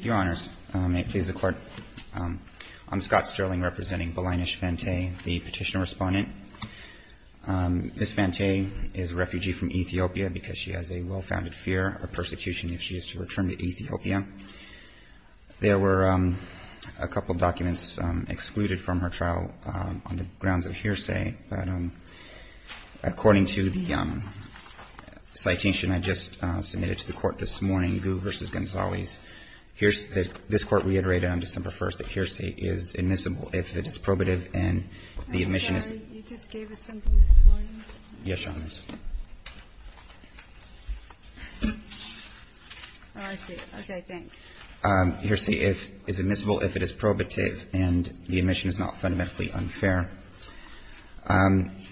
Your Honors, may it please the Court, I'm Scott Sterling, representing Balinesh Fantaye, the petitioner-respondent. Ms. Fantaye is a refugee from Ethiopia because she has a well-founded fear of persecution if she is to return to Ethiopia. There were a couple documents excluded from her trial on the grounds of hearsay, but according to the citation I just submitted to the Court this morning, Gu v. Gonzales, this Court reiterated on December 1st that hearsay is admissible if it is probative and the admission is MS. FANTAYE I'm sorry. You just gave us something this morning? MR. GONZALES Yes, Your Honors. MS. FANTAYE Oh, I see. Okay, thanks. MR. GONZALES Hearsay is admissible if it is probative and the admission is not fundamentally unfair. MS. FANTAYE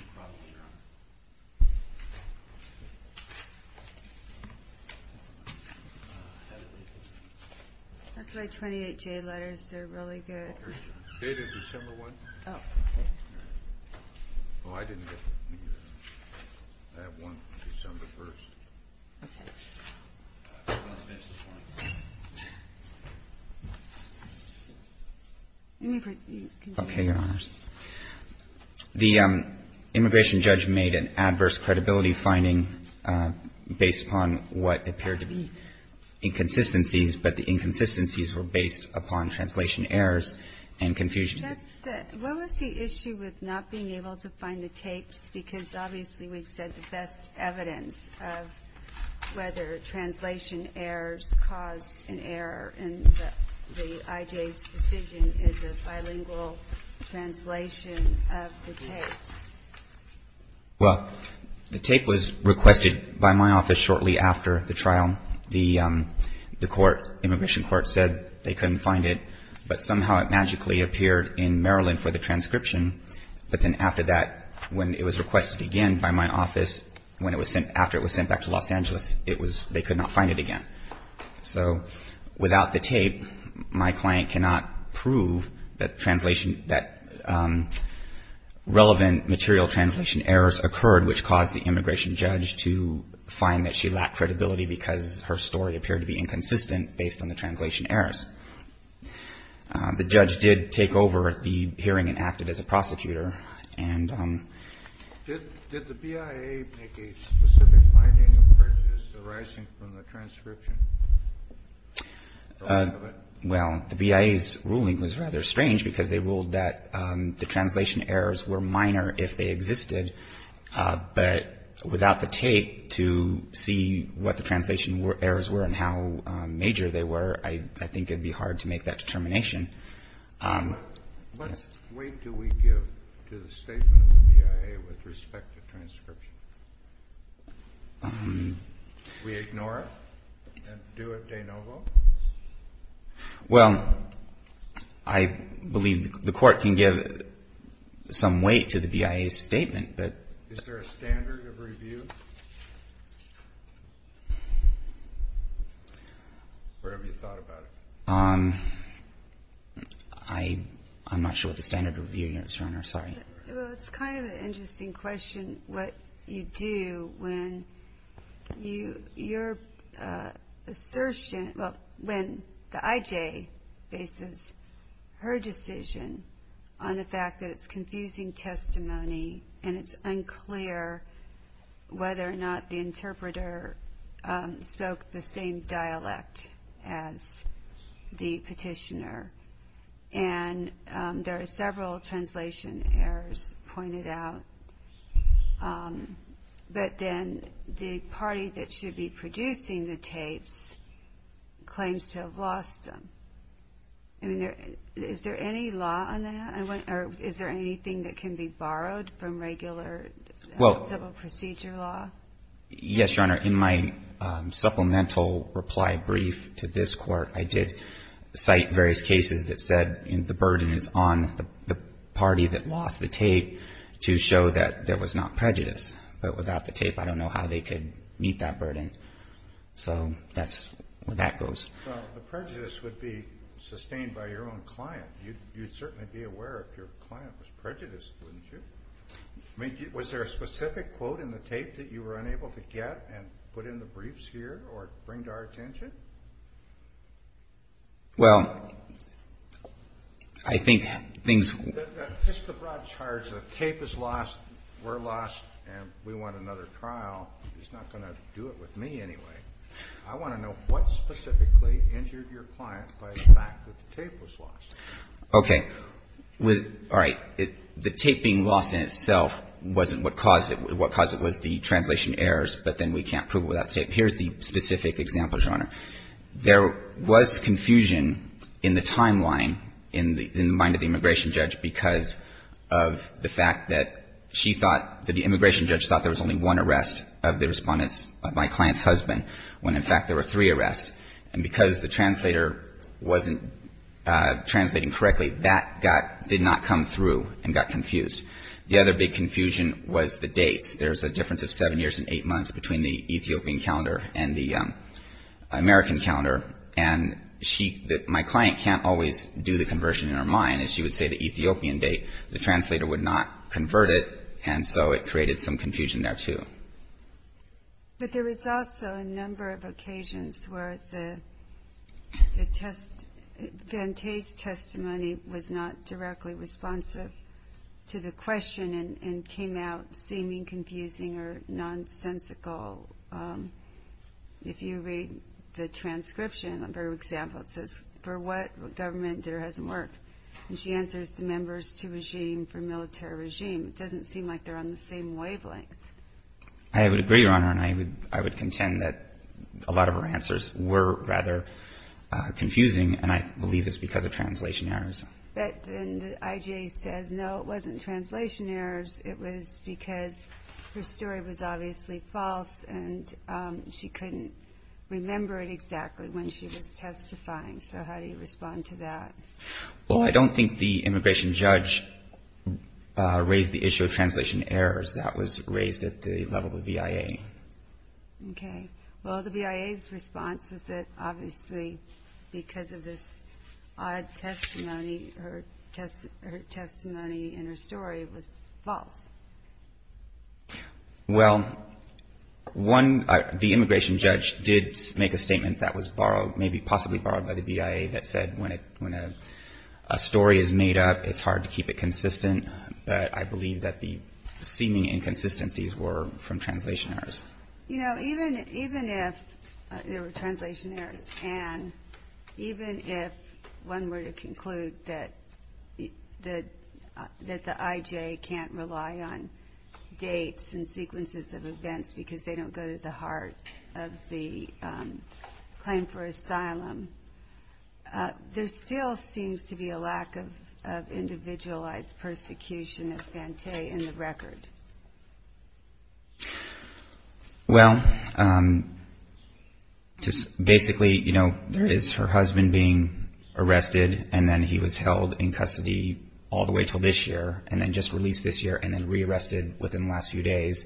That's my 28-J letters. They're really good. MR. GONZALES Date of December 1st? MS. FANTAYE Oh, okay. MR. GONZALES Oh, I didn't get any of that. I have one from December 1st. MS. FANTAYE Okay. MR. GONZALES Okay, Your Honors. The immigration judge made an adverse credibility finding based upon what appeared to be inconsistencies, but the inconsistencies were based upon translation errors and confusion. MS. FANTAYE What was the issue with not being able to find the tapes? Because obviously we've said the best evidence of whether translation errors cause an error in the IJ's decision is a bilingual translation of the tapes. MR. GONZALES Well, the tape was requested by my office shortly after the trial. The court, immigration court, said they couldn't find it, but somehow it magically appeared in Maryland for the transcription. But then after that, when it was requested again by my office, when it was sent, after it was sent back to Los Angeles, it was lost. They could not find it again. So without the tape, my client cannot prove that translation, that relevant material translation errors occurred, which caused the immigration judge to find that she lacked credibility because her story appeared to be inconsistent based on the translation errors. The judge did take over the hearing and acted as a prosecutor. And MS. FANTAYE Did the BIA make a specific finding of prejudices arising from the transcription? MR. GONZALES Well, the BIA's ruling was rather strange because they ruled that the translation errors were minor if they existed. But without the tape to see what the translation errors were and how major they were, I think it would be hard to make that determination. THE COURT What weight do we give to the statement of the BIA with respect to transcription? Do we ignore it and do it de novo? MR. GONZALES Well, I believe the Court can give some weight to the BIA's statement, but THE COURT Is there a standard of review? Or have you thought about it? MR. GONZALES I'm not sure what the standard of review is, Your Honor. Sorry. MS. FANTAYE Well, it's kind of an interesting question what you do when your assertion, well, when the IJ faces her decision on the fact that it's confusing testimony and it's unclear whether or not the interpreter spoke the same dialect as the petitioner. And there are several translation errors pointed out. But then the party that should be producing the tapes claims to have lost them. I mean, is there any law on that? Or is there anything that can be borrowed from regular civil procedure law? MR. GONZALES Yes, Your Honor. In my supplemental reply brief to this Court, I did cite various cases that said the burden is on the party that lost the tape to show that there was not prejudice. But without the tape, I don't know how they could meet that burden. So that's where that goes. THE COURT Well, the prejudice would be sustained by your own client. You'd certainly be aware if your client was prejudiced, wouldn't you? I mean, was there a specific quote in the tape that you were unable to get and put in the briefs here or bring to our attention? MR. GONZALES Well, I think things THE COURT Just the broad charge that the tape is lost, we're lost, and we want another trial is not going to do it with me anyway. I want to know what specifically Okay. All right. The tape being lost in itself wasn't what caused it. What caused it was the translation errors, but then we can't prove it without tape. Here's the specific example, Your Honor. There was confusion in the timeline in the mind of the immigration judge because of the fact that she thought that the immigration judge thought there was only one arrest of the Respondent's, of my client's re-arrest, and because the translator wasn't translating correctly, that did not come through and got confused. The other big confusion was the dates. There's a difference of seven years and eight months between the Ethiopian calendar and the American calendar, and my client can't always do the conversion in her mind. She would say the Ethiopian date, the translator would not convert it, and so it created some confusion there, too. But there was also a number of occasions where the Vante's testimony was not directly responsive to the question and came out seeming confusing or nonsensical. If you read the transcription, for example, it says, For what government did her husband work? And she answers, The members to regime for military regime. It doesn't seem like they're on the same wavelength. I would agree, Your Honor, and I would contend that a lot of her answers were rather confusing, and I believe it's because of translation errors. But then the IGA says, No, it wasn't translation errors. It was because her story was obviously false, and she couldn't remember it exactly when she was testifying. So how do you respond to that? Well, I don't think the immigration judge raised the issue of translation errors. That was raised at the level of the BIA. Okay. Well, the BIA's response was that obviously because of this odd testimony, her testimony and her story was false. Well, one, the immigration judge did make a statement that was borrowed, maybe possibly borrowed by the BIA, that said when a story is made up, it's hard to keep it consistent, but I believe that the seeming inconsistencies were from translation errors. You know, even if there were translation errors and even if one were to conclude that the IGA can't rely on dates and sequences of events because they don't go to the heart of the claim for asylum, there still seems to be a lack of individualized persecution of Fante in the record. Well, basically, you know, there is her husband being arrested, and then he was held in custody all the way until this year, and then just released this year, and then re-arrested within the last few days.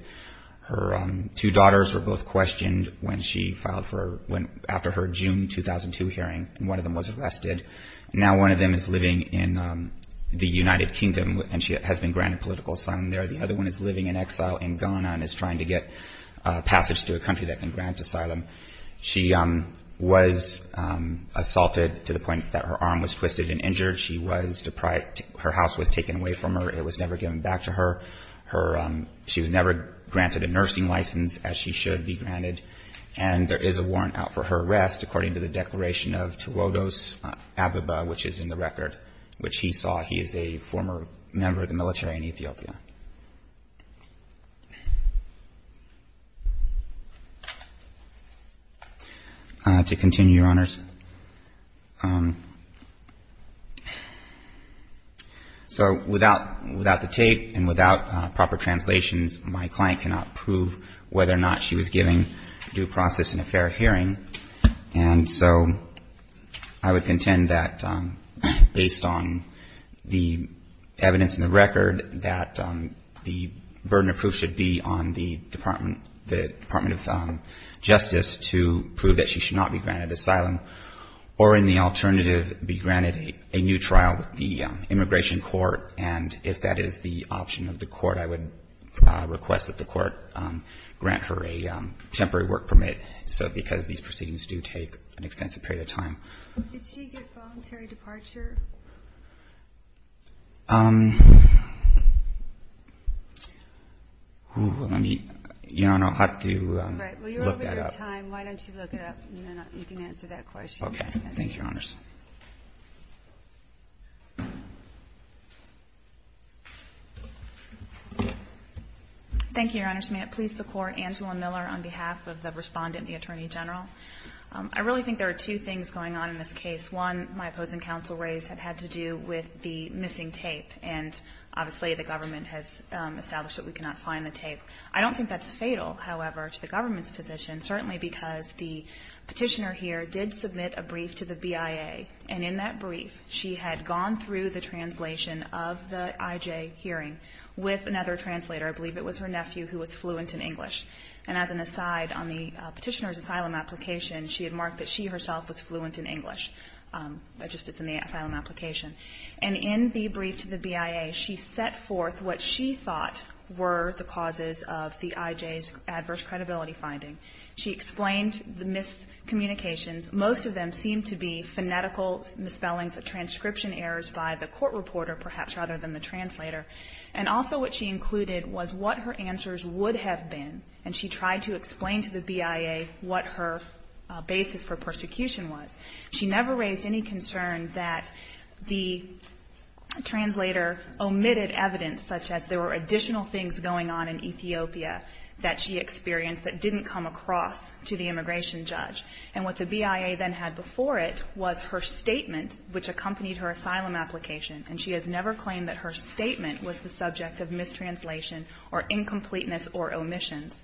Her two daughters were both questioned when she filed for, after her June 2002 hearing, and one of them was arrested. Now one of them is living in the United Kingdom, and she has been granted political asylum there. The other one is living in exile in Ghana and is trying to get passage to a country that can grant asylum. She was assaulted to the point that her arm was twisted and injured. She was deprived. Her house was taken away from her. It was never given back to her. Her ‑‑ she was never granted a nursing license, as she should be granted, and there is a warrant out for her arrest according to the declaration of Tawodos Ababa, which is in the record, which he saw. He is a former member of the military in Ethiopia. To continue, Your Honors, so without the tape and without proper translations, my client cannot prove whether or not she was giving due process in a fair hearing, and so I would contend that based on the evidence in the record that the burden of proof should be on the Department of Justice to prove that she should not be granted asylum, or in the alternative, be granted a new trial with the immigration court, and if that is the option of the court, I would request that the court grant her a temporary work permit, because these proceedings do take an extensive period of time. Did she get voluntary departure? You don't know how to look that up. Right. Well, you're over your time. Why don't you look it up, and then you can answer that question. Okay. Thank you, Your Honors. Thank you, Your Honors. May it please the Court, Angela Miller on behalf of the respondent, the Attorney General. I really think there are two things going on in this case. One, my opposing counsel raised, had to do with the missing tape, and obviously the government has established that we cannot find the tape. I don't think that's fatal, however, to the government's position, certainly because the Petitioner here did submit a brief to the BIA, and in that brief, she had gone through the translation of the IJ hearing with another translator. I believe it was her nephew who was fluent in English. And as an aside, on the Petitioner's asylum application, she had marked that she herself was fluent in English. That just sits in the asylum application. And in the brief to the BIA, she set forth what she thought were the causes of the IJ's adverse credibility finding. She explained the miscommunications. Most of them seemed to be phonetical misspellings of transcription errors by the court reporter, perhaps rather than the translator. And also what she included was what her answers would have been, and she tried to explain to the BIA what her basis for persecution was. She never raised any concern that the translator omitted evidence such as there were additional things going on in Ethiopia that she experienced that didn't come across to the immigration judge. And what the BIA then had before it was her statement, which accompanied her asylum application, and she has never claimed that her statement was the subject of mistranslation or incompleteness or omissions.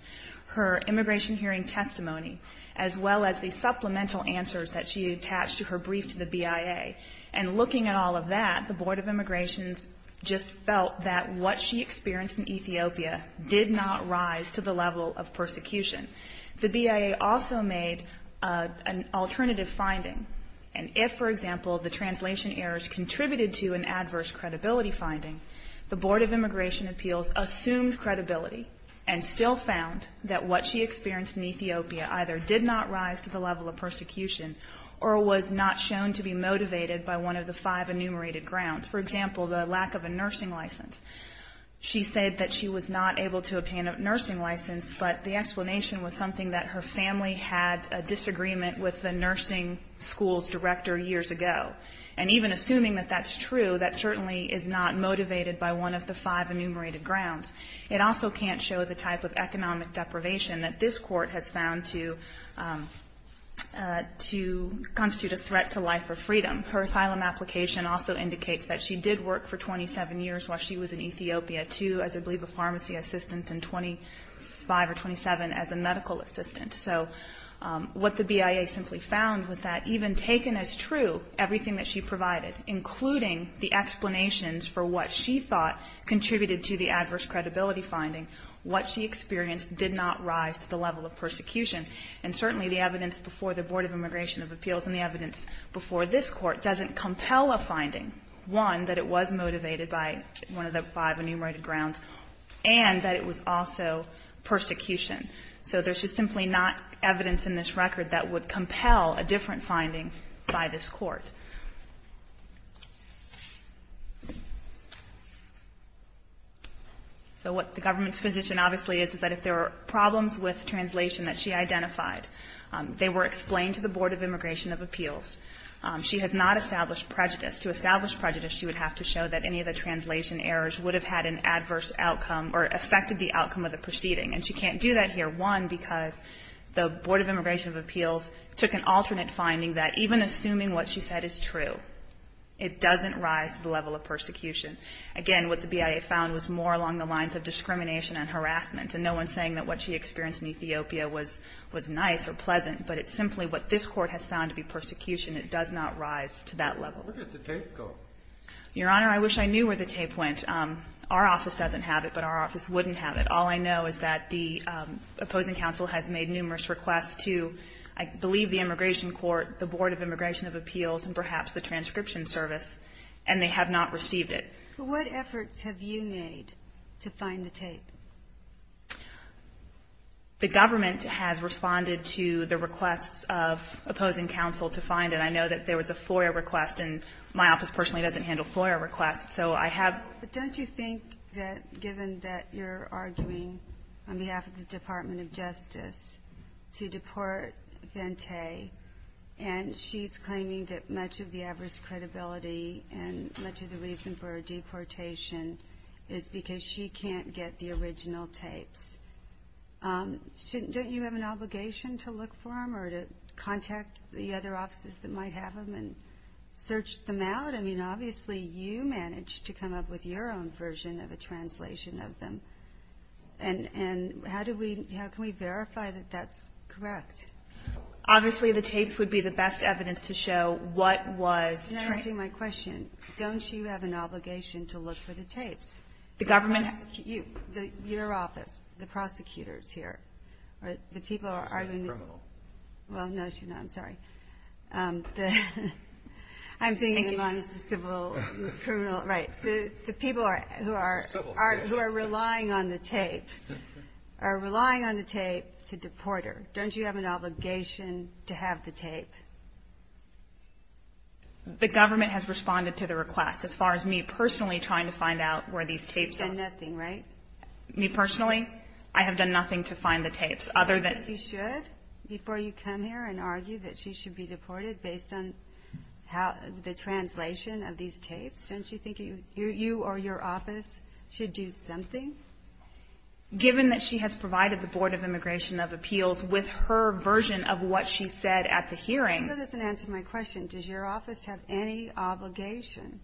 Her immigration hearing testimony, as well as the supplemental answers that she attached to her brief to the BIA. And looking at all of that, the Board of Immigrations just felt that what she experienced in Ethiopia did not rise to the level of persecution. The BIA also made an alternative finding. And if, for example, the translation errors contributed to an adverse credibility finding, the Board of Immigration Appeals assumed credibility and still found that what she experienced in Ethiopia either did not rise to the level of persecution or was not shown to be motivated by one of the five enumerated grounds. For example, the lack of a nursing license. She said that she was not able to obtain a nursing license, but the explanation was something that her family had a disagreement with the nursing school's director years ago. And even assuming that that's true, that certainly is not motivated by one of the five enumerated grounds. It also can't show the type of economic deprivation that this Court has found to constitute a threat to life or freedom. Her asylum application also indicates that she did work for 27 years while she was in So what the BIA simply found was that even taken as true everything that she provided, including the explanations for what she thought contributed to the adverse credibility finding, what she experienced did not rise to the level of persecution. And certainly the evidence before the Board of Immigration Appeals and the evidence before this Court doesn't compel a finding, one, that it was motivated by one of the five enumerated grounds, and that it was also persecution. So there's just simply not evidence in this record that would compel a different finding by this Court. So what the government's position obviously is, is that if there are problems with translation that she identified, they were explained to the Board of Immigration of Appeals. She has not established prejudice. To establish prejudice, she would have to show that any of the translation errors would have had an adverse outcome or affected the outcome of the proceeding. And she can't do that here, one, because the Board of Immigration of Appeals took an alternate finding that even assuming what she said is true, it doesn't rise to the level of persecution. Again, what the BIA found was more along the lines of discrimination and harassment. And no one's saying that what she experienced in Ethiopia was nice or pleasant, but it's simply what this Court has found to be persecution. It does not rise to that level. Your Honor, I wish I knew where the tape went. Our office doesn't have it, but our office wouldn't have it. But all I know is that the opposing counsel has made numerous requests to, I believe, the immigration court, the Board of Immigration of Appeals, and perhaps the transcription service, and they have not received it. But what efforts have you made to find the tape? The government has responded to the requests of opposing counsel to find it. I know that there was a FOIA request, and my office personally doesn't handle FOIA requests. But don't you think that given that you're arguing on behalf of the Department of Justice to deport Vente, and she's claiming that much of the adverse credibility and much of the reason for her deportation is because she can't get the original tapes, don't you have an obligation to look for them or to contact the other offices that might have them and search them out? I mean, obviously, you managed to come up with your own version of a translation of them. And how do we, how can we verify that that's correct? Obviously, the tapes would be the best evidence to show what was... You're not answering my question. Don't you have an obligation to look for the tapes? The government... Your office, the prosecutors here, the people are arguing... Well, no, I'm sorry. I'm thinking amongst the civil, criminal, right. The people who are relying on the tape, are relying on the tape to deport her. Don't you have an obligation to have the tape? The government has responded to the request. As far as me personally trying to find out where these tapes are... You've done nothing, right? Me personally? Yes. I have done nothing to find the tapes other than... Don't you think it's good before you come here and argue that she should be deported based on the translation of these tapes? Don't you think you or your office should do something? Given that she has provided the Board of Immigration of Appeals with her version of what she said at the hearing... That doesn't answer my question. Does your office have any obligation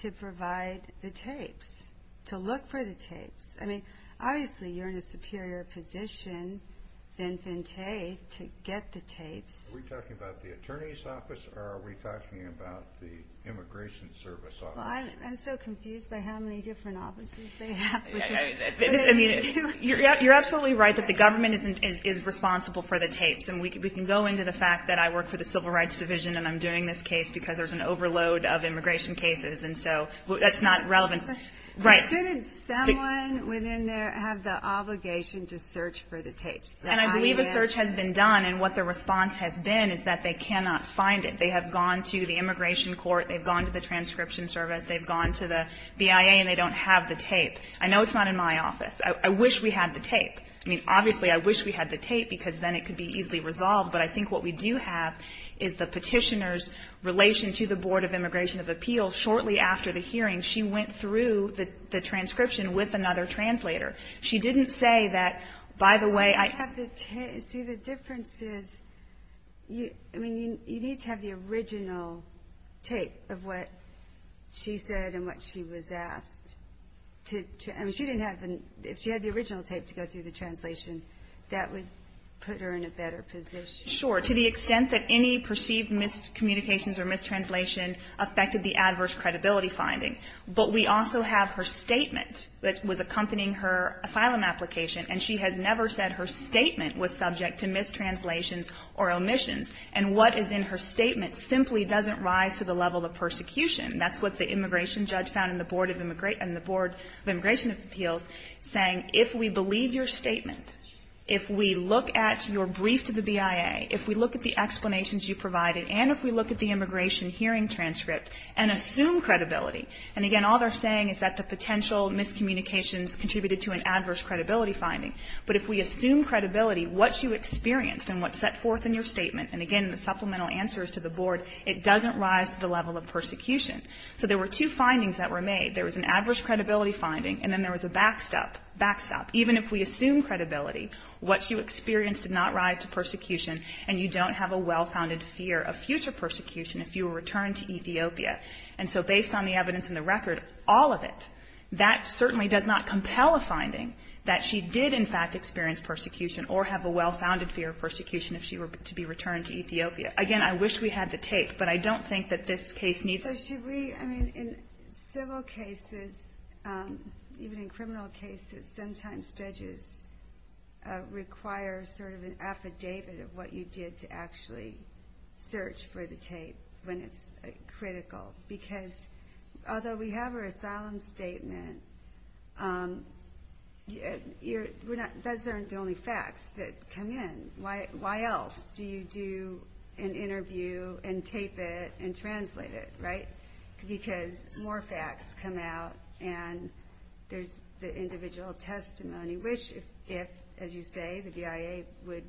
to provide the tapes? To look for the tapes? Obviously, you're in a superior position than FinTech to get the tapes. Are we talking about the attorney's office or are we talking about the immigration service office? I'm so confused by how many different offices they have. You're absolutely right that the government is responsible for the tapes. We can go into the fact that I work for the Civil Rights Division and I'm doing this case because there's an overload of immigration cases. That's not relevant. Shouldn't someone within there have the obligation to search for the tapes? I believe a search has been done, and what the response has been is that they cannot find it. They have gone to the immigration court. They've gone to the transcription service. They've gone to the BIA, and they don't have the tape. I know it's not in my office. I wish we had the tape. Obviously, I wish we had the tape because then it could be easily resolved, but I think what we do have is the petitioner's relation to the Board of Immigration of Appeals. Shortly after the hearing, she went through the transcription with another translator. She didn't say that, by the way, I have the tape. See, the difference is you need to have the original tape of what she said and what she was asked. If she had the original tape to go through the translation, that would put her in a better position. Sure, to the extent that any perceived miscommunications or mistranslation affected the adverse credibility finding. But we also have her statement that was accompanying her asylum application, and she has never said her statement was subject to mistranslations or omissions. And what is in her statement simply doesn't rise to the level of persecution. That's what the immigration judge found in the Board of Immigration of Appeals saying, if we believe your statement, if we look at your brief to the BIA, if we look at the explanations you provided, and if we look at the immigration hearing transcript and assume credibility. And, again, all they're saying is that the potential miscommunications contributed to an adverse credibility finding. But if we assume credibility, what you experienced and what's set forth in your statement, and, again, the supplemental answer is to the Board, it doesn't rise to the level of persecution. So there were two findings that were made. There was an adverse credibility finding, and then there was a backstop, backstop. Even if we assume credibility, what you experienced did not rise to persecution, and you don't have a well-founded fear of future persecution if you were returned to Ethiopia. And so based on the evidence in the record, all of it, that certainly does not compel a finding that she did, in fact, experience persecution or have a well-founded fear of persecution if she were to be returned to Ethiopia. Again, I wish we had the tape, but I don't think that this case needs it. But should we, I mean, in civil cases, even in criminal cases, sometimes judges require sort of an affidavit of what you did to actually search for the tape when it's critical. Because although we have her asylum statement, those aren't the only facts that come in. Why else do you do an interview and tape it and translate it, right? Because more facts come out, and there's the individual testimony, which if, as you say, the BIA would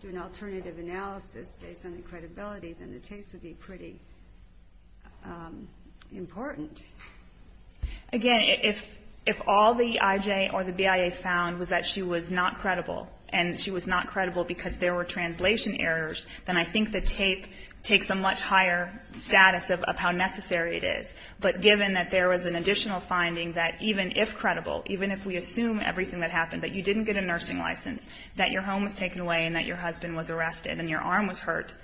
do an alternative analysis based on the credibility, then the tapes would be pretty important. Again, if all the IJ or the BIA found was that she was not credible, and she was not credible because there were translation errors, then I think the tape takes a much higher status of how necessary it is. But given that there was an additional finding that even if credible, even if we assume everything that happened, that you didn't get a nursing license, that your home was taken away and that your husband was arrested and your arm was hurt,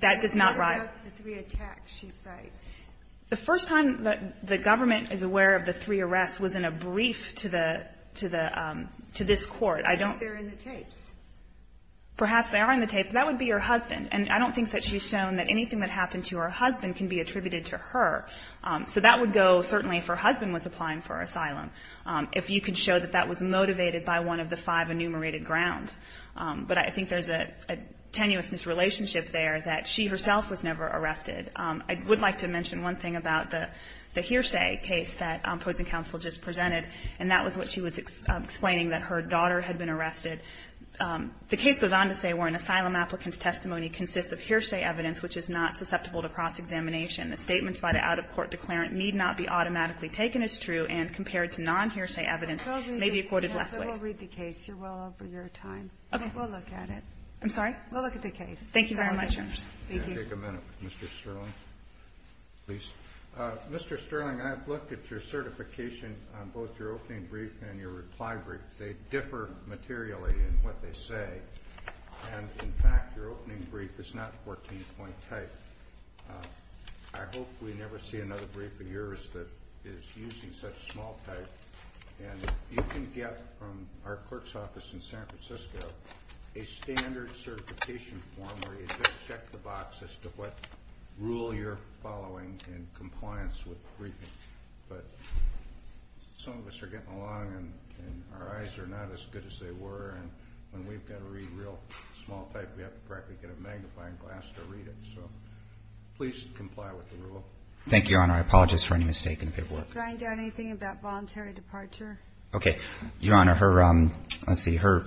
that does not rival the three attacks she cites. The first time the government is aware of the three arrests was in a brief to the to this court. I don't think they're in the tapes. Perhaps they are in the tapes. That would be her husband. And I don't think that she's shown that anything that happened to her husband can be attributed to her. So that would go, certainly, if her husband was applying for asylum, if you could show that that was motivated by one of the five enumerated grounds. But I think there's a tenuousness relationship there that she herself was never arrested. I would like to mention one thing about the Hearsay case that Pozen Counsel just presented, and that was what she was explaining, that her daughter had been arrested. The case goes on to say where an asylum applicant's testimony consists of Hearsay evidence which is not susceptible to cross-examination. The statements by the out-of-court declarant need not be automatically taken as true and compared to non-Hearsay evidence may be quoted less ways. We'll read the case. You're well over your time. Okay. We'll look at it. I'm sorry? We'll look at the case. Thank you very much. Can I take a minute with Mr. Sterling, please? Mr. Sterling, I've looked at your certification on both your opening brief and your reply brief. They differ materially in what they say. And, in fact, your opening brief is not 14-point type. I hope we never see another brief of yours that is using such small type. And you can get from our clerk's office in San Francisco a standard certification form where you just check the box as to what rule you're following in compliance with the briefing. But some of us are getting along, and our eyes are not as good as they were, and when we've got to read real small type, we have to practically get a magnifying glass to read it. So please comply with the rule. Thank you, Your Honor. I apologize for any mistake and a bit of work. Do I know anything about voluntary departure? Okay. Your Honor, her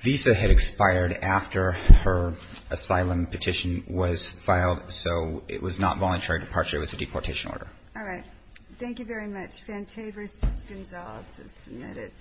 visa had expired after her asylum petition was filed, so it was not voluntary departure. It was a deportation order. All right. Thank you very much. Fante v. Gonzalez is submitted.